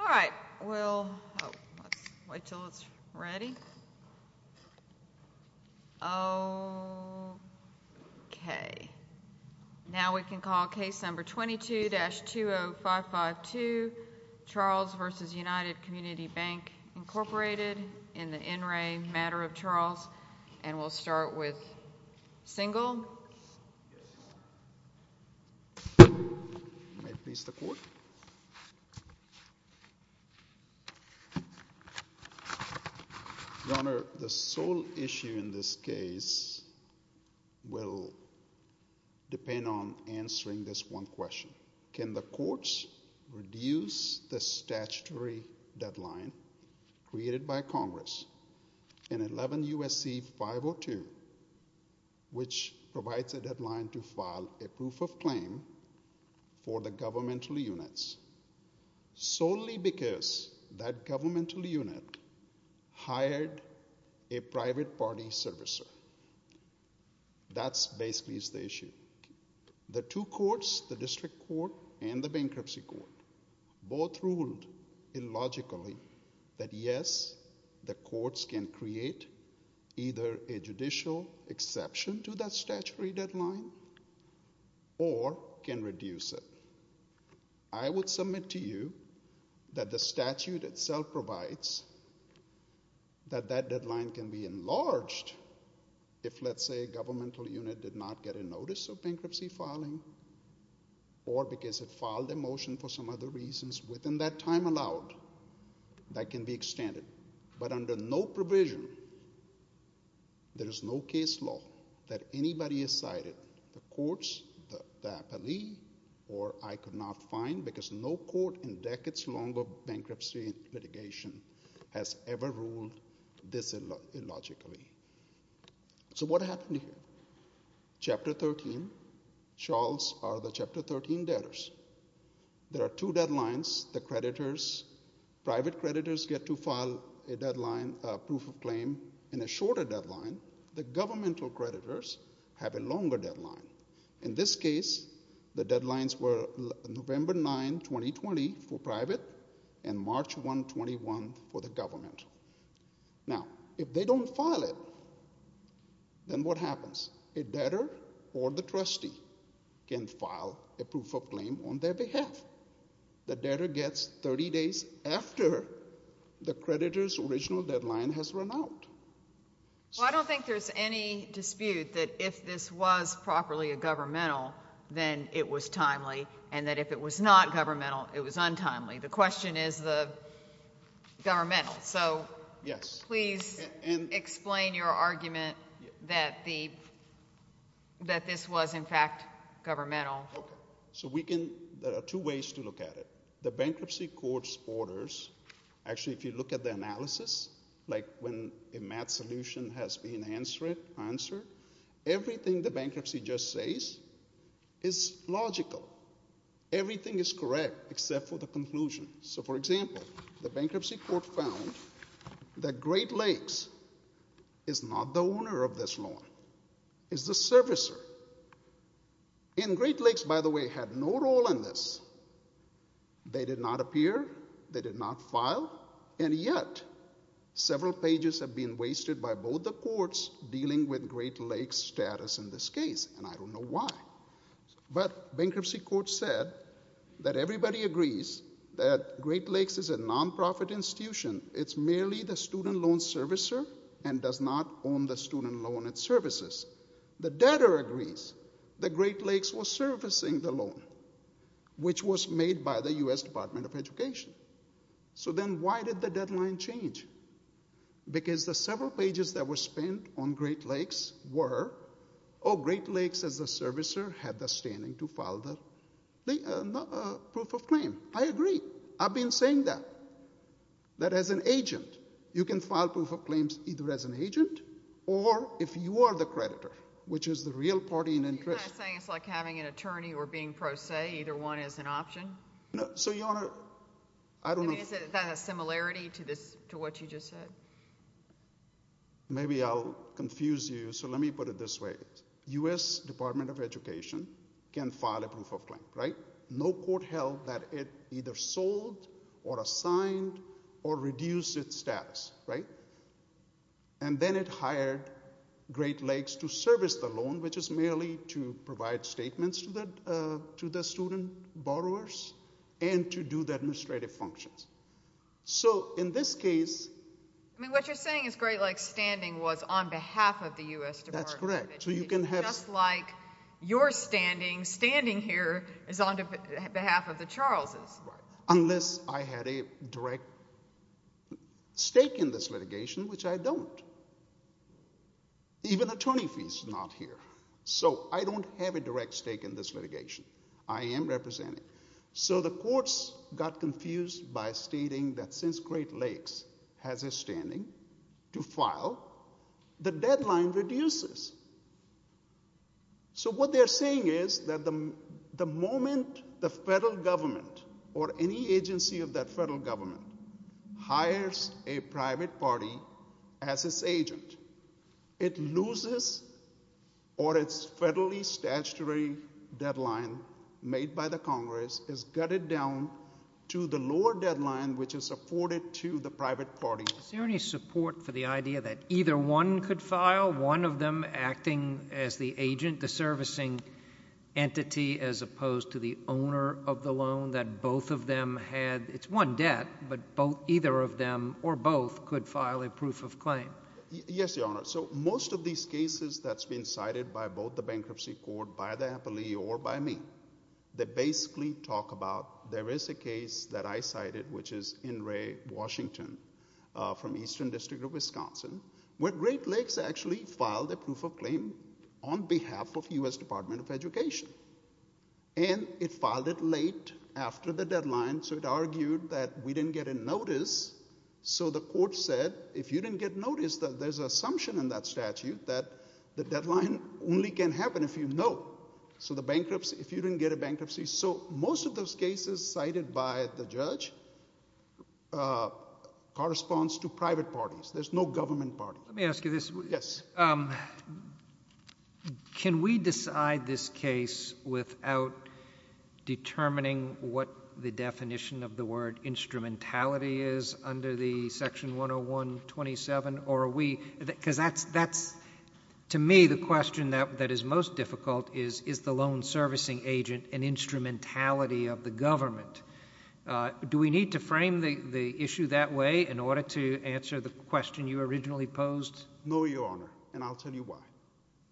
All right. We'll wait until it's ready. Okay. Now we can call case number 22-20552, Charles v. United Community Bank, Incorporated, in the NRA matter of Charles, and we'll start with Single. Your Honor, the sole issue in this case will depend on answering this one question. Can the courts reduce the statutory deadline created by Congress in 11 U.S.C. 502, which provides a deadline to file a proof of claim for the governmental units solely because that governmental unit hired a private party servicer? That basically is the issue. The two courts, the District Court and the Bankruptcy Court, both ruled illogically that yes, the courts can create either a judicial exception to that statutory deadline or can reduce it. I would submit to you that the statute itself provides that that deadline can be enlarged if, let's say, a governmental unit did not get a notice of bankruptcy filing or because it filed a motion for some other reasons within that time allowed, that can be extended. But under no provision, there is no case law that anybody has cited, the courts, the appellee, or I could not find because no court in decades long of bankruptcy litigation has ever ruled this illogically. So what happened here? Chapter 13, Charles R. the Chapter 13 debtors. There are two deadlines, the creditors, private creditors get to file a deadline, a proof of claim in a shorter deadline. The governmental creditors have a longer deadline. In this case, the deadlines were November 9, 2020 for private and March 1, 21 for the government. Now, if they don't file it, then what happens? A debtor or the trustee can file a proof of claim on their behalf. The debtor gets 30 days after the creditor's original deadline has run out. Well, I don't think there's any dispute that if this was properly a governmental, then it was timely and that if it was not governmental, it was untimely. The question is the governmental. So please explain your argument that this was in fact governmental. So we can, there are two ways to look at it. The bankruptcy court's orders, actually, if you look at the analysis, like when a math solution has been answered, everything the is logical. Everything is correct except for the conclusion. So for example, the bankruptcy court found that Great Lakes is not the owner of this law. It's the servicer. And Great Lakes, by the way, had no role in this. They did not appear, they did not file, and yet several pages have been wasted by both the courts dealing with Great Lakes status in this case, and I don't know why. But bankruptcy court said that everybody agrees that Great Lakes is a nonprofit institution. It's merely the student loan servicer and does not own the student loan and services. The debtor agrees that Great Lakes was servicing the loan, which was made by the U.S. Department of Education. So then why did the deadline change? Because the several pages that were spent on Great Lakes were, oh, Great Lakes, as a servicer, had the standing to file the proof of claim. I agree. I've been saying that, that as an agent, you can file proof of claims either as an agent or if you are the creditor, which is the real party in interest. Are you kind of saying it's like having an attorney or being pro se, either one is an option? No. So, Your Honor, I don't know. I mean, is that a similarity to this, to what you just said? No. Maybe I'll confuse you. So let me put it this way. U.S. Department of Education can file a proof of claim, right? No court held that it either sold or assigned or reduced its status, right? And then it hired Great Lakes to service the loan, which is merely to provide statements to the student borrowers and to do the administrative functions. So in this case, what you're saying is Great Lakes' standing was on behalf of the U.S. Department of Education. That's correct. So you can have... Just like your standing, standing here is on behalf of the Charles' department. Unless I had a direct stake in this litigation, which I don't. Even attorney fees are not here. So I don't have a direct stake in this litigation. I am representing. So the courts got confused by stating that since Great Lakes has a standing to file, the deadline reduces. So what they're saying is that the moment the federal government or any agency of that federal government hires a private party as its agent, it loses or its federally statutory deadline made by the Congress is gutted down to the lower deadline, which is afforded to the private party. Is there any support for the idea that either one could file, one of them acting as the agent, the servicing entity, as opposed to the owner of the loan that both of them had? It's one debt, but either of them or both could file a bankruptcy claim. There is a case that I cited, which is in Ray, Washington, from Eastern District of Wisconsin, where Great Lakes actually filed a proof of claim on behalf of U.S. Department of Education. And it filed it late after the deadline, so it argued that we didn't get a notice. So the court said, if you didn't get notice, there's an assumption in that statute that the deadline only can happen if you know. So the bankruptcy, if you didn't get a bankruptcy. So most of those cases cited by the judge corresponds to private parties. There's no government party. Let me ask you this. Yes. Can we decide this case without determining what the definition of the word instrumentality is under the section 101-27? Because to me, the question that is most difficult is, is the loan servicing agent an instrumentality of the government? Do we need to frame the issue that way in order to answer the question you originally posed? No, Your Honor, and I'll tell you why.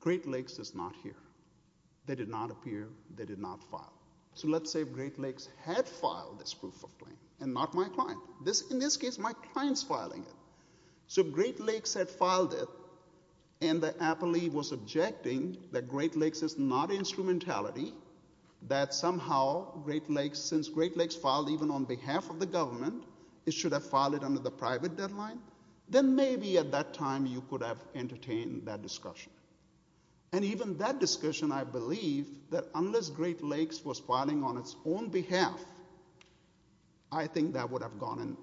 Great Lakes is not here. They did not appear. They did not file. So let's say Great Lakes had filed this proof of claim and not my client. In this case, my client's filing it. So Great Lakes had filed it and the appellee was objecting that Great Lakes is not instrumentality, that somehow Great Lakes, since Great Lakes filed even on behalf of the government, it should have filed it under the private deadline, then maybe at that time you could have entertained that discussion. And even that discussion, I believe that unless Great Lakes was filing on its own behalf, I think that would have gone in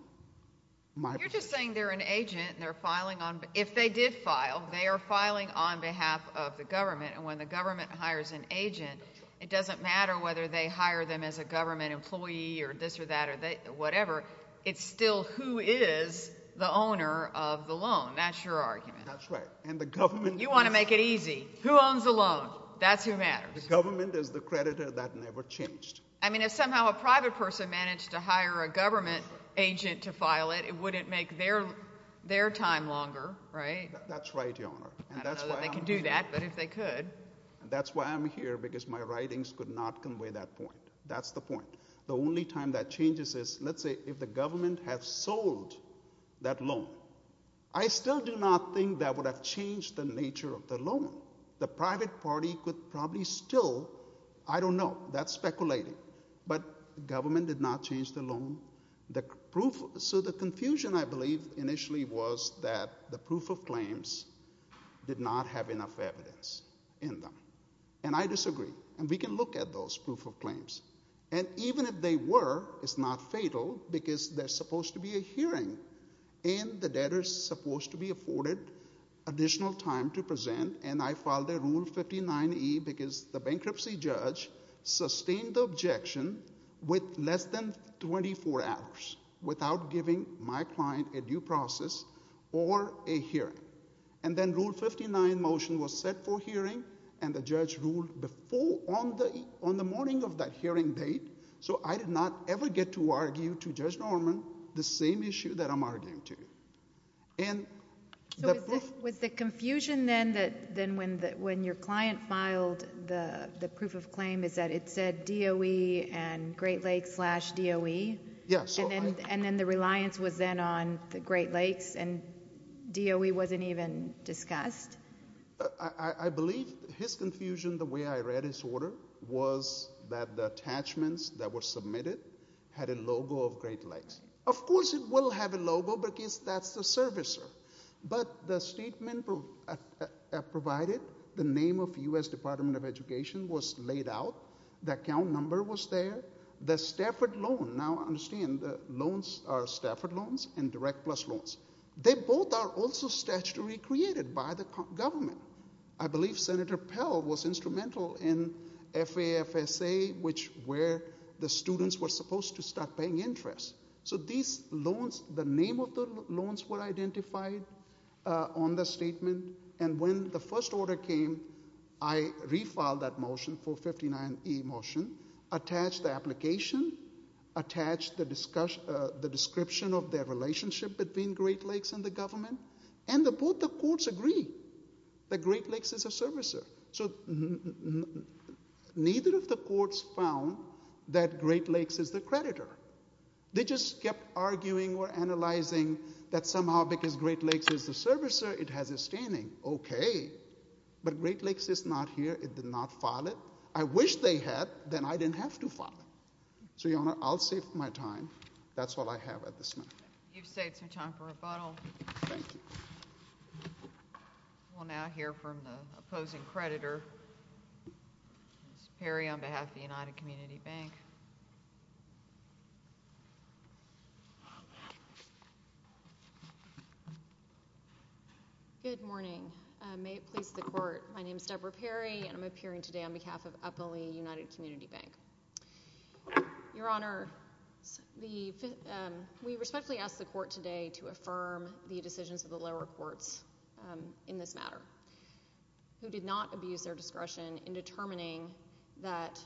my... You're just saying they're an agent and they're filing on... If they did file, they are filing on behalf of the government. And when the government hires an agent, it doesn't matter whether they hire them as a government employee or this or that or whatever, it's still who is the owner of the loan. That's your argument. That's right. And the government... You want to make it easy. Who owns the loan? That's who matters. The government is the creditor. That never changed. I mean, if somehow a private person managed to hire a government agent to file it, it wouldn't make their time longer, right? That's right, Your Honor. I don't know that they could do that, but if they could. That's why I'm here, because my writings could not convey that point. That's the point. The only time that changes is, let's say, if the government had sold that loan, I still do not think that would have changed the nature of the loan. The private party could probably still... I don't know. That's speculating. But the government did not change the loan. So the confusion, I believe, initially was that the proof of claims did not have enough evidence in them. And I disagree. And we can look at those proof of claims. And even if they were, it's not fatal, because there's supposed to be a hearing and the debtor's supposed to be afforded additional time to present. And I filed a Rule 59E, because the bankruptcy judge sustained the objection with less than 24 hours, without giving my client a due process or a hearing. And then Rule 59 motion was set for hearing, and the judge ruled on the morning of that hearing date. So I did not ever get to argue to Judge Norman the same issue that I'm arguing to. So was the confusion then that when your client filed the proof of claim is that it said DOE and Great Lakes slash DOE? And then the reliance was then on the Great Lakes, and DOE wasn't even discussed? I believe his confusion, the way I read his order, was that the servicer. But the statement provided, the name of U.S. Department of Education was laid out, the account number was there, the Stafford loan. Now, understand, the loans are Stafford loans and Direct Plus loans. They both are also statutorily created by the government. I believe Senator Pell was instrumental in FAFSA, which where the students were supposed to start paying interest. So these loans, the name of the loans were identified on the statement, and when the first order came, I refiled that motion, 459E motion, attached the application, attached the description of their relationship between Great Lakes and the government, and both the courts agree that Great Lakes is a servicer. So neither of the courts found that Great Lakes is the servicer. They just kept arguing or analyzing that somehow because Great Lakes is the servicer, it has a standing. Okay, but Great Lakes is not here. It did not file it. I wish they had, then I didn't have to file it. So, Your Honor, I'll save my time. That's all I have at this moment. You've saved some time for rebuttal. Thank you. We'll now hear from the opposing creditor, Ms. Perry, on behalf of the United Community Bank. Good morning. May it please the Court, my name is Debra Perry, and I'm appearing today on behalf of Eppley United Community Bank. Your Honor, we respectfully ask the Court today to affirm the decisions of the lower courts in this matter, who did not abuse their discretion in determining that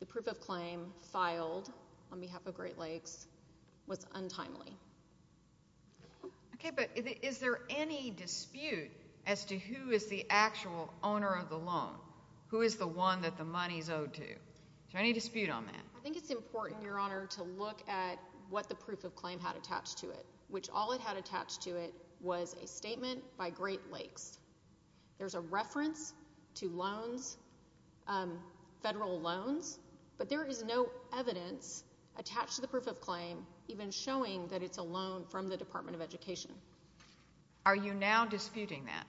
the proof of claim filed on behalf of Great Lakes was untimely. Okay, but is there any dispute as to who is the actual owner of the loan? Who is the one that the money's owed to? Is there any dispute on that? I think it's important, Your Honor, to look at what the proof of claim had attached to it, which all it had attached to it was a statement by Great Lakes Federal Loans, but there is no evidence attached to the proof of claim even showing that it's a loan from the Department of Education. Are you now disputing that?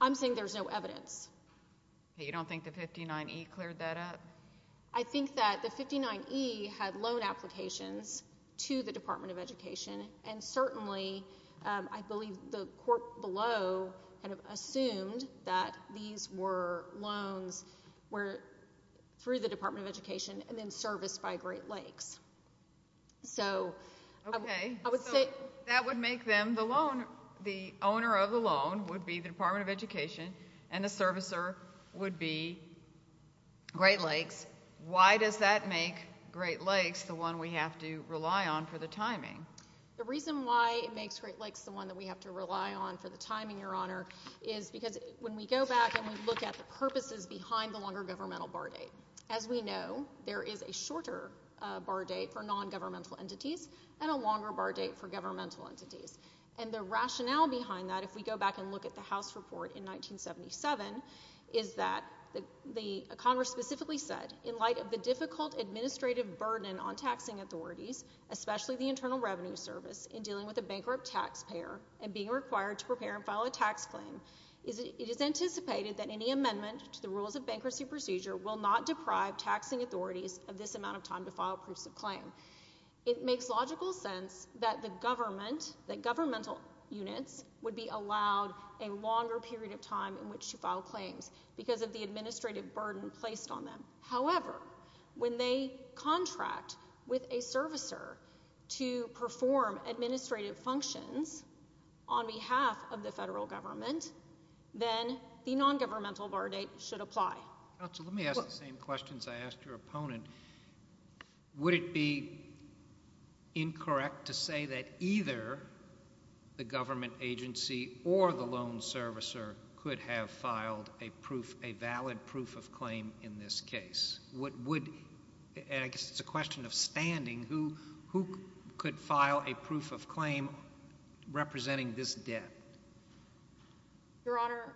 I'm saying there's no evidence. You don't think the 59E cleared that up? I think that the 59E had loan applications to the Department of Education, and certainly, I believe the court below kind of assumed that these were loans were through the Department of Education and then serviced by Great Lakes. So, I would say that would make them the loan. The owner of the loan would be the Department of Education, and the servicer would be Great Lakes. Why does that make Great Lakes the one we have to rely on for the timing? The reason why it makes Great Lakes the one that we have to rely on for the timing, Your Honor, is because when we go back and we look at the purposes behind the longer governmental bar date, as we know, there is a shorter bar date for nongovernmental entities and a longer bar date for governmental entities. And the rationale behind that, if we go back and look at the House report in 1977, is that the Congress specifically said, in light of the difficult administrative burden on taxing authorities, especially the Internal Revenue Service, in dealing with a bankrupt taxpayer and being required to prepare and file a tax claim, it is anticipated that any amendment to the rules of bankruptcy procedure will not deprive taxing authorities of this amount of time to file proofs of claim. It makes logical sense that governmental units would be allowed a longer period of time in which to file claims because of the administrative burden placed on them. However, when they contract with a servicer to perform administrative functions on behalf of the federal government, then the nongovernmental bar date should apply. Counsel, let me ask the same questions I asked your opponent. Would it be incorrect to say that either the government agency or the loan servicer could have filed a proof, a valid proof of claim in this case? And I guess it's a question of standing. Who could file a proof of claim representing this debt? Your Honor,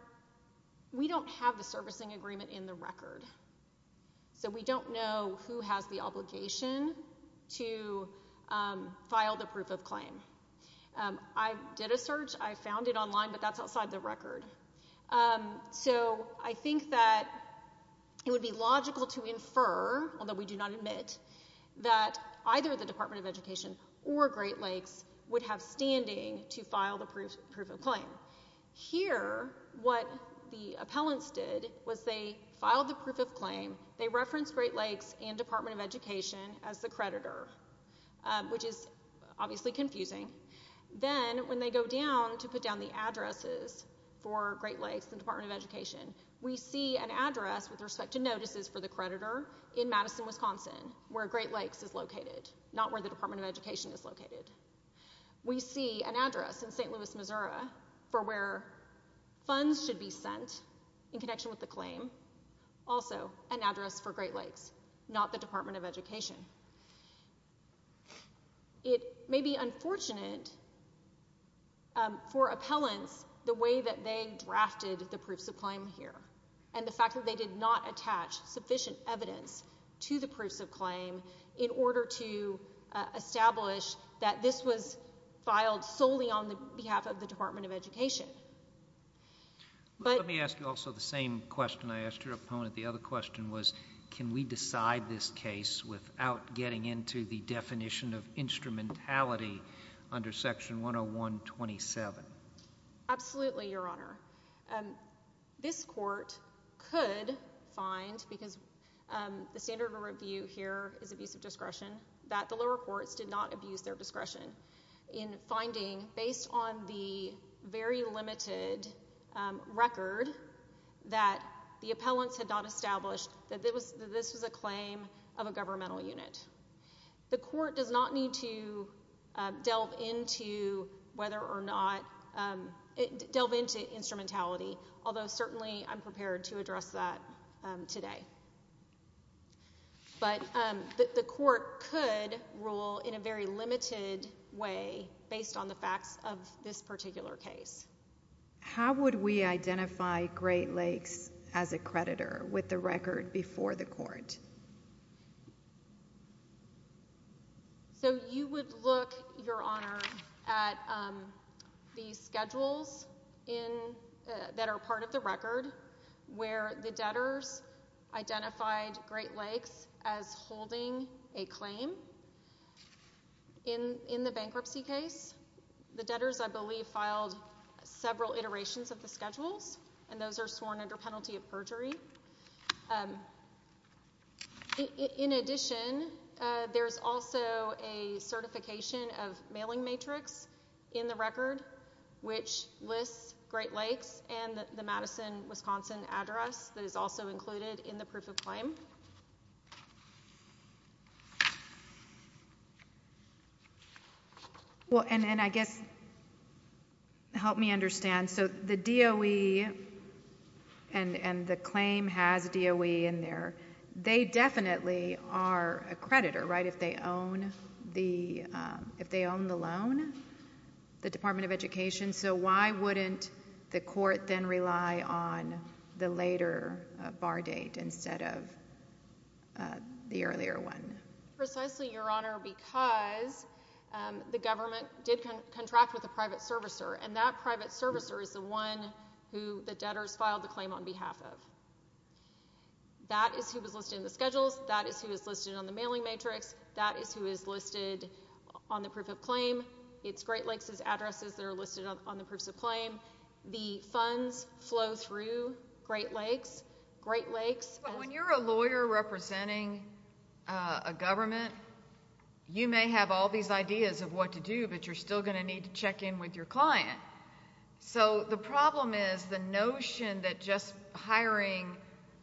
we don't have the servicing agreement in the record. So we don't know who has the obligation to file the proof of claim. I did a search. I found it would be logical to infer, although we do not admit, that either the Department of Education or Great Lakes would have standing to file the proof of claim. Here, what the appellants did was they filed the proof of claim. They referenced Great Lakes and Department of Education as the creditor, which is obviously confusing. Then when they go down to put down the addresses for Great Lakes, we see notices for the creditor in Madison, Wisconsin, where Great Lakes is located, not where the Department of Education is located. We see an address in St. Louis, Missouri, for where funds should be sent in connection with the claim, also an address for Great Lakes, not the Department of Education. It may be unfortunate for appellants the way that they do, but we do not have sufficient evidence to the proofs of claim in order to establish that this was filed solely on the behalf of the Department of Education. Let me ask you also the same question I asked your opponent. The other question was, can we decide this case without getting into the definition of instrumentality under Section 10127? Absolutely, Your Honor. This court could find, because the standard of review here is abuse of discretion, that the lower courts did not abuse their discretion in finding, based on the very limited record that the appellants had not established, that this was a claim of a governmental unit. The court does not need to do that today. But the court could rule in a very limited way based on the facts of this particular case. How would we identify Great Lakes as a creditor with the record before the court? So you would look, Your Honor, at the schedules that are part of the record where the debtors identified Great Lakes as holding a claim. In the bankruptcy case, the debtors, I believe, filed several iterations of the schedules, and those are sworn under penalty of perjury. In addition, there's also a certification of address that is also included in the proof of claim. Well, and I guess, help me understand. So the DOE and the claim has DOE in there. They definitely are a creditor, right, if they own the loan, the Department of Education. So why wouldn't the court then rely on the later bar date instead of the earlier one? Precisely, Your Honor, because the government did contract with a private servicer, and that private servicer is the one who the debtors filed the claim on behalf of. That is who was listed in the schedules. That is who is listed on the mailing matrix. That is who is listed on the proof of claim. It's Great Lakes' addresses that are listed on the proof of claim. The funds flow through Great Lakes. Great Lakes— But when you're a lawyer representing a government, you may have all these ideas of what to do, but you're still going to need to check in with your client. So the problem is the notion that just hiring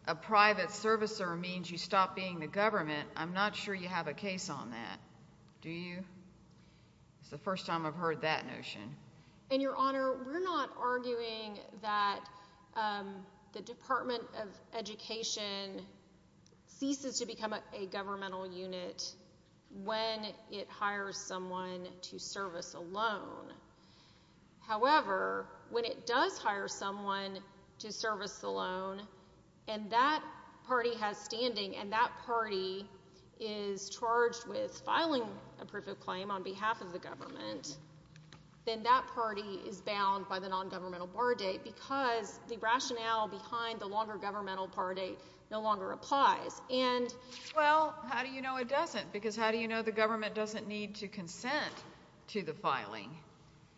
a private servicer means you stop being the first time I've heard that notion. And, Your Honor, we're not arguing that the Department of Education ceases to become a governmental unit when it hires someone to service a loan. However, when it does hire someone to service the loan, and that party has standing, and that party is charged with filing a proof of claim on behalf of the government, then that party is bound by the nongovernmental bar date because the rationale behind the longer governmental bar date no longer applies. And— Well, how do you know it doesn't? Because how do you know the government doesn't need to consent to the filing?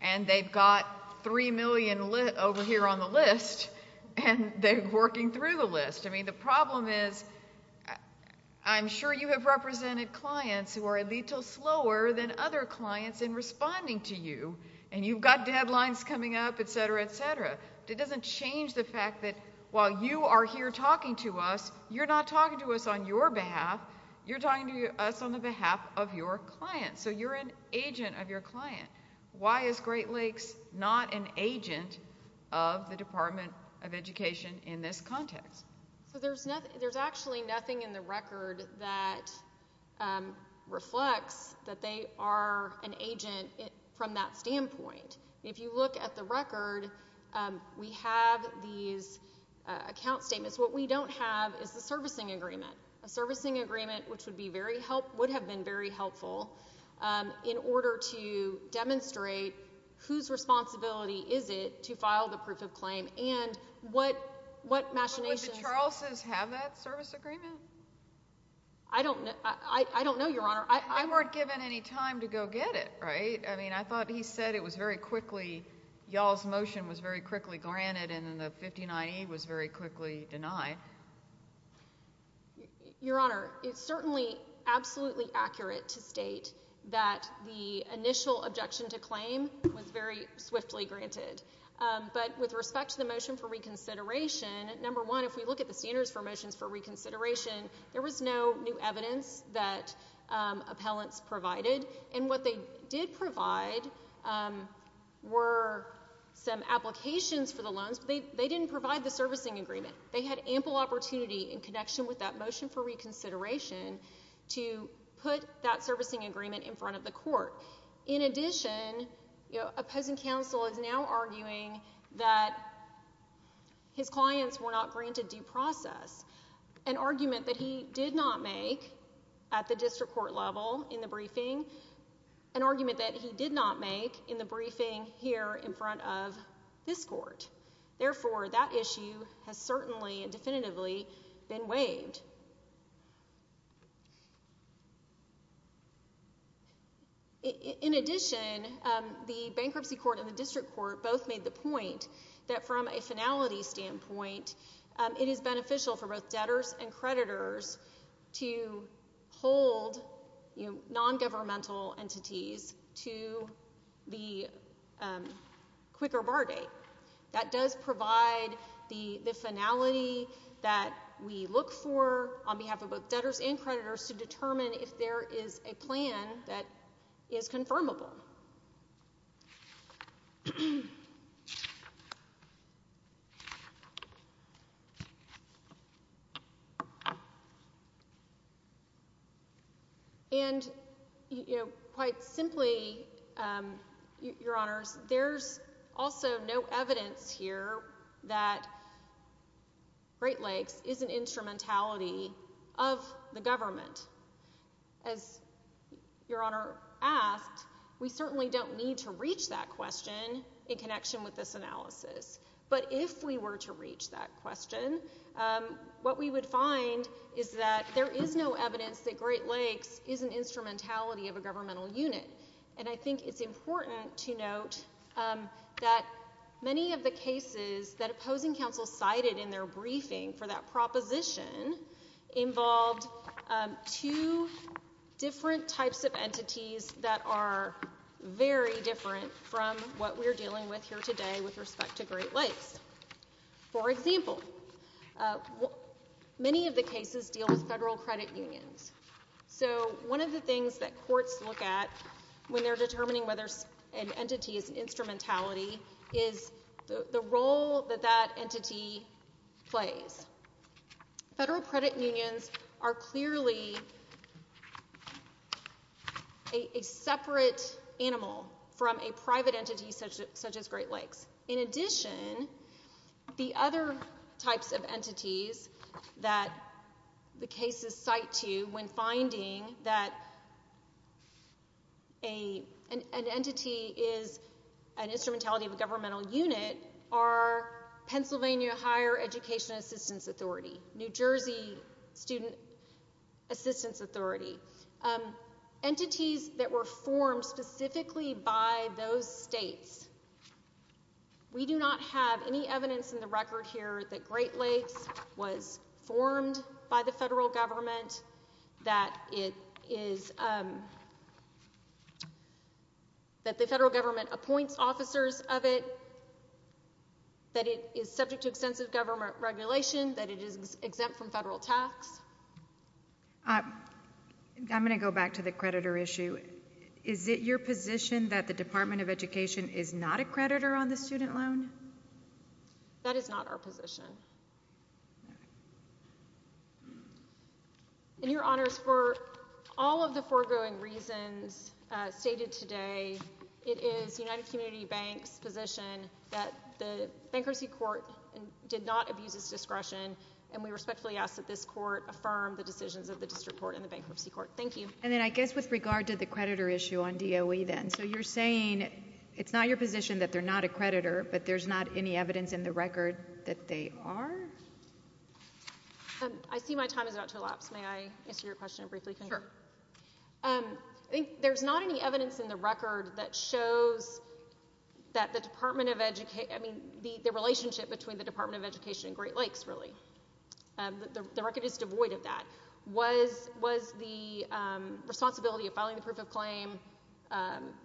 And they've got 3 million over here on the list, and they're working through the list. I mean, the problem is I'm sure you have represented clients who are a little slower than other clients in responding to you, and you've got deadlines coming up, etc., etc. It doesn't change the fact that while you are here talking to us, you're not talking to us on your behalf. You're talking to us on the behalf of your client. So you're an agent of your client. Why is Great Lakes not an agent of the Department of Education in this context? So there's nothing—there's actually nothing in the record that reflects that they are an agent from that standpoint. If you look at the record, we have these account statements. What we don't have is the servicing agreement. A servicing agreement, which would be very helpful—would demonstrate whose responsibility is it to file the proof of claim and what machinations— Would the Charleses have that service agreement? I don't know. I don't know, Your Honor. I weren't given any time to go get it, right? I mean, I thought he said it was very quickly—y'all's motion was very quickly granted and the 59E was very quickly denied. Your Honor, it's certainly absolutely accurate to state that the initial objection to claim was very swiftly granted. But with respect to the motion for reconsideration, number one, if we look at the standards for motions for reconsideration, there was no new evidence that appellants provided. And what they did provide were some applications for the loans. They didn't provide the servicing agreement. They had ample opportunity in connection with that motion for reconsideration to put that servicing agreement in front of the court. In addition, opposing counsel is now arguing that his clients were not granted due process, an argument that he did not make at the district court level in the briefing, an argument that he did not make in the briefing here in front of this court. Therefore, that issue has certainly and definitively been waived. In addition, the bankruptcy court and the district court both made the point that from a finality standpoint, it is beneficial for both debtors and creditors to hold nongovernmental entities to the quicker bar date. That does provide the finality that we look for on behalf of both debtors and creditors to determine if there is a plan that is in place. And, you know, quite simply, Your Honors, there's also no evidence here that Great Lakes is an instrumentality of the government. As Your Honor asked, we certainly don't need to reach that question in connection with this analysis. But if we were to reach that there is no evidence that Great Lakes is an instrumentality of a governmental unit. And I think it's important to note that many of the cases that opposing counsel cited in their briefing for that proposition involved two different types of entities that are very different from what we're dealing with here today with respect to Great Lakes. For example, many of the cases deal with federal credit unions. So one of the things that courts look at when they're determining whether an entity is an instrumentality is the role that that entity plays. Federal credit unions are clearly a separate animal from a private entity such as Great Lakes. In addition, the other types of entities that the cases cite to when finding that an entity is an instrumentality of a governmental unit are Pennsylvania Higher Education Assistance Authority, New Jersey Student Assistance Authority, entities that were formed specifically by those states. We do not have any evidence in the record here that Great Lakes was formed by the federal government, that the federal government appoints officers of it, that it is subject to extensive government regulation, that it is exempt from federal tax. I'm going to go back to the creditor issue. Is it your position that the Department of Education is not a creditor on the student loan? That is not our position. In your honors, for all of the foregoing reasons stated today, it is United Community Banks' position that the bankruptcy court did not abuse its discretion, and we respectfully ask that this firm, the decisions of the district court and the bankruptcy court. Thank you. And then I guess with regard to the creditor issue on DOE then, so you're saying it's not your position that they're not a creditor, but there's not any evidence in the record that they are? I see my time is about to elapse. May I answer your question briefly? I think there's not any evidence in the record that shows that the relationship between the was the responsibility of filing the proof of claim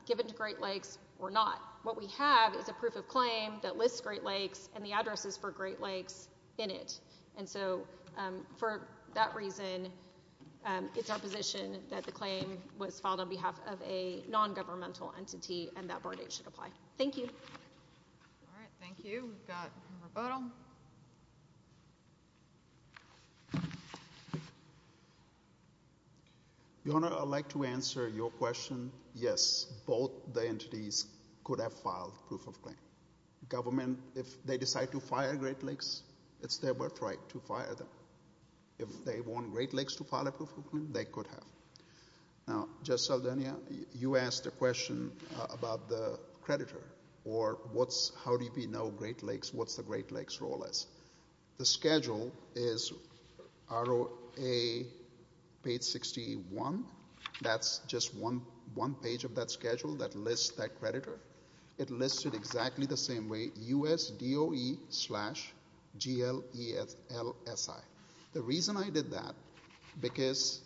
given to Great Lakes or not. What we have is a proof of claim that lists Great Lakes and the addresses for Great Lakes in it, and so for that reason, it's our position that the claim was filed on behalf of a non-governmental entity and should apply. Thank you. All right, thank you. We've got member Boateng. Your honor, I'd like to answer your question. Yes, both the entities could have filed proof of claim. Government, if they decide to fire Great Lakes, it's their birthright to fire them. If they want Great Lakes to file a proof of claim, they could have. Now, Judge Saldana, you asked a question about the creditor, or how do we know what the Great Lakes role is. The schedule is ROA page 61. That's just one page of that schedule that lists that creditor. It lists it exactly the same way, USDOE slash GLELSI. The reason I did that, because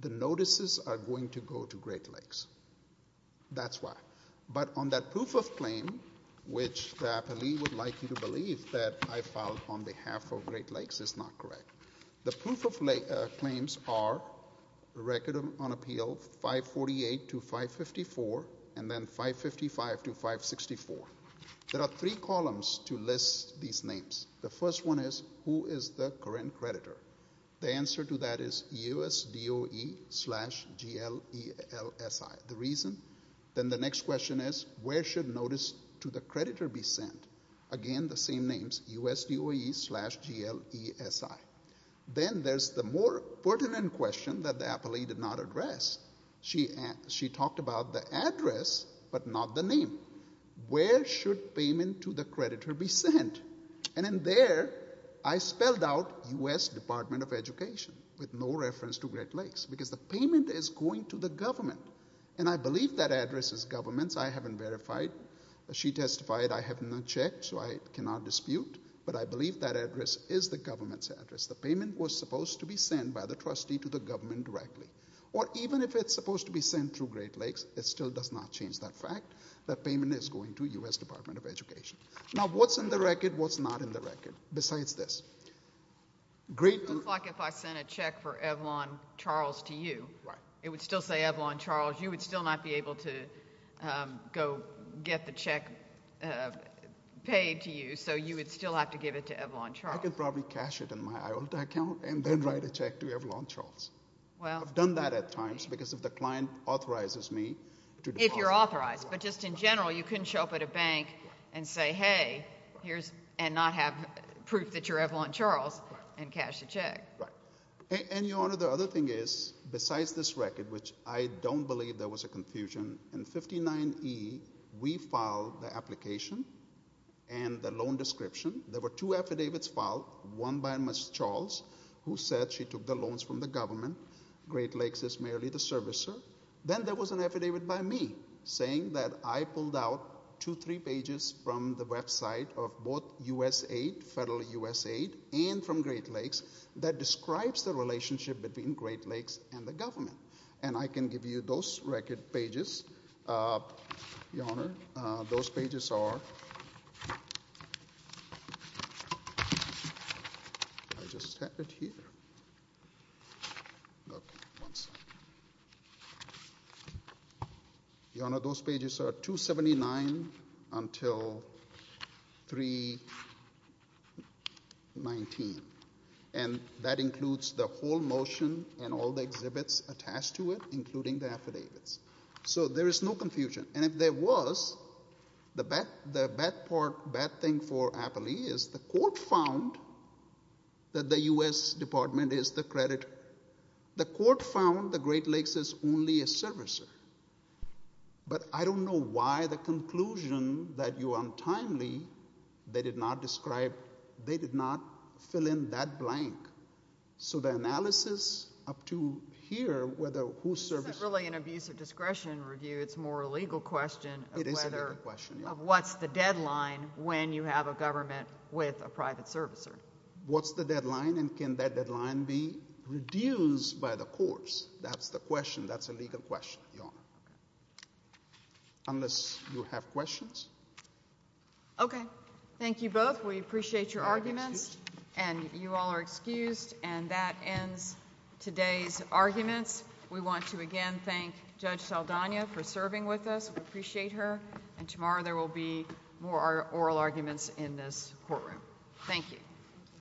the notices are going to go to Great Lakes. That's why. But on that proof of claim, which the appellee would like you to believe that I filed on behalf of Great Lakes is not correct. The proof of claims are Record on Appeal 548 to 554, and then 555 to 564. There are three columns to list these names. The first one is, who is the current creditor? The answer to that is USDOE slash GLELSI, the reason. Then the next question is, where should notice to the creditor be sent? Again, the same names, USDOE slash GLESI. Then there's the more pertinent question that the appellee did not address. She talked about the address, but not the name. Where should payment to the creditor be sent? In there, I spelled out U.S. Department of Education, with no reference to Great Lakes, because the payment is going to the government. I believe that address is government's. I haven't verified. She testified I have not checked, so I cannot dispute. But I believe that address is the government's address. The payment was supposed to be sent by the trustee to the government directly. Even if it's supposed to be sent through Great Lakes, it still does not change that fact. That payment is going to U.S. Department of Education. Now, what's in the record, what's not in the record, besides this? It looks like if I sent a check for Evlon Charles to you, it would still say Evlon Charles. You would still not be able to go get the check paid to you, so you would still have to give it to Evlon Charles. I could probably cash it in my IOLT account and then write a check to Evlon Charles. I've done that at times, because if the client authorizes me to do that. If you're authorized, but just in general, you couldn't show up at a bank and say, hey, here's, and not have proof that you're Evlon Charles and cash the check. Right. And, Your Honor, the other thing is, besides this record, which I don't believe there was a confusion, in 59E, we filed the application and the loan description. There were two affidavits filed, one by Ms. Charles, who said she took the loans from the government. Great Lakes is merely the servicer. Then there was an affidavit by me, saying that I pulled out two, three pages from the website of both U.S. aid, federal U.S. aid, and from Great Lakes, that describes the relationship between Great Lakes and the government. And I can give you those record pages, Your Honor. Those pages are, I just have it here. Okay, one second. Your Honor, those pages are 279 until 319. And that includes the whole motion and all the exhibits attached to it, including the affidavits. So there is no confusion. And if there was, the bad part, bad thing for Appley is the court found that the U.S. department is the creditor. The court found that Great Lakes is only a servicer. But I don't know why the conclusion that you are untimely, they did not describe, they did not fill in that blank. So the analysis up to here, whether who's servicing... It isn't really an abuse of discretion review. It's more a legal question of whether... It is a legal question, Your Honor. What's the deadline when you have a government with a private servicer? What's the deadline? And can that deadline be reduced by the courts? That's the question. That's a legal question, Your Honor. Unless you have questions? Okay. Thank you both. We appreciate your arguments. And you all are excused. And that ends today's arguments. We want to again thank Judge Saldana for serving with us. We appreciate her. And tomorrow there will be more oral arguments in this courtroom. Thank you.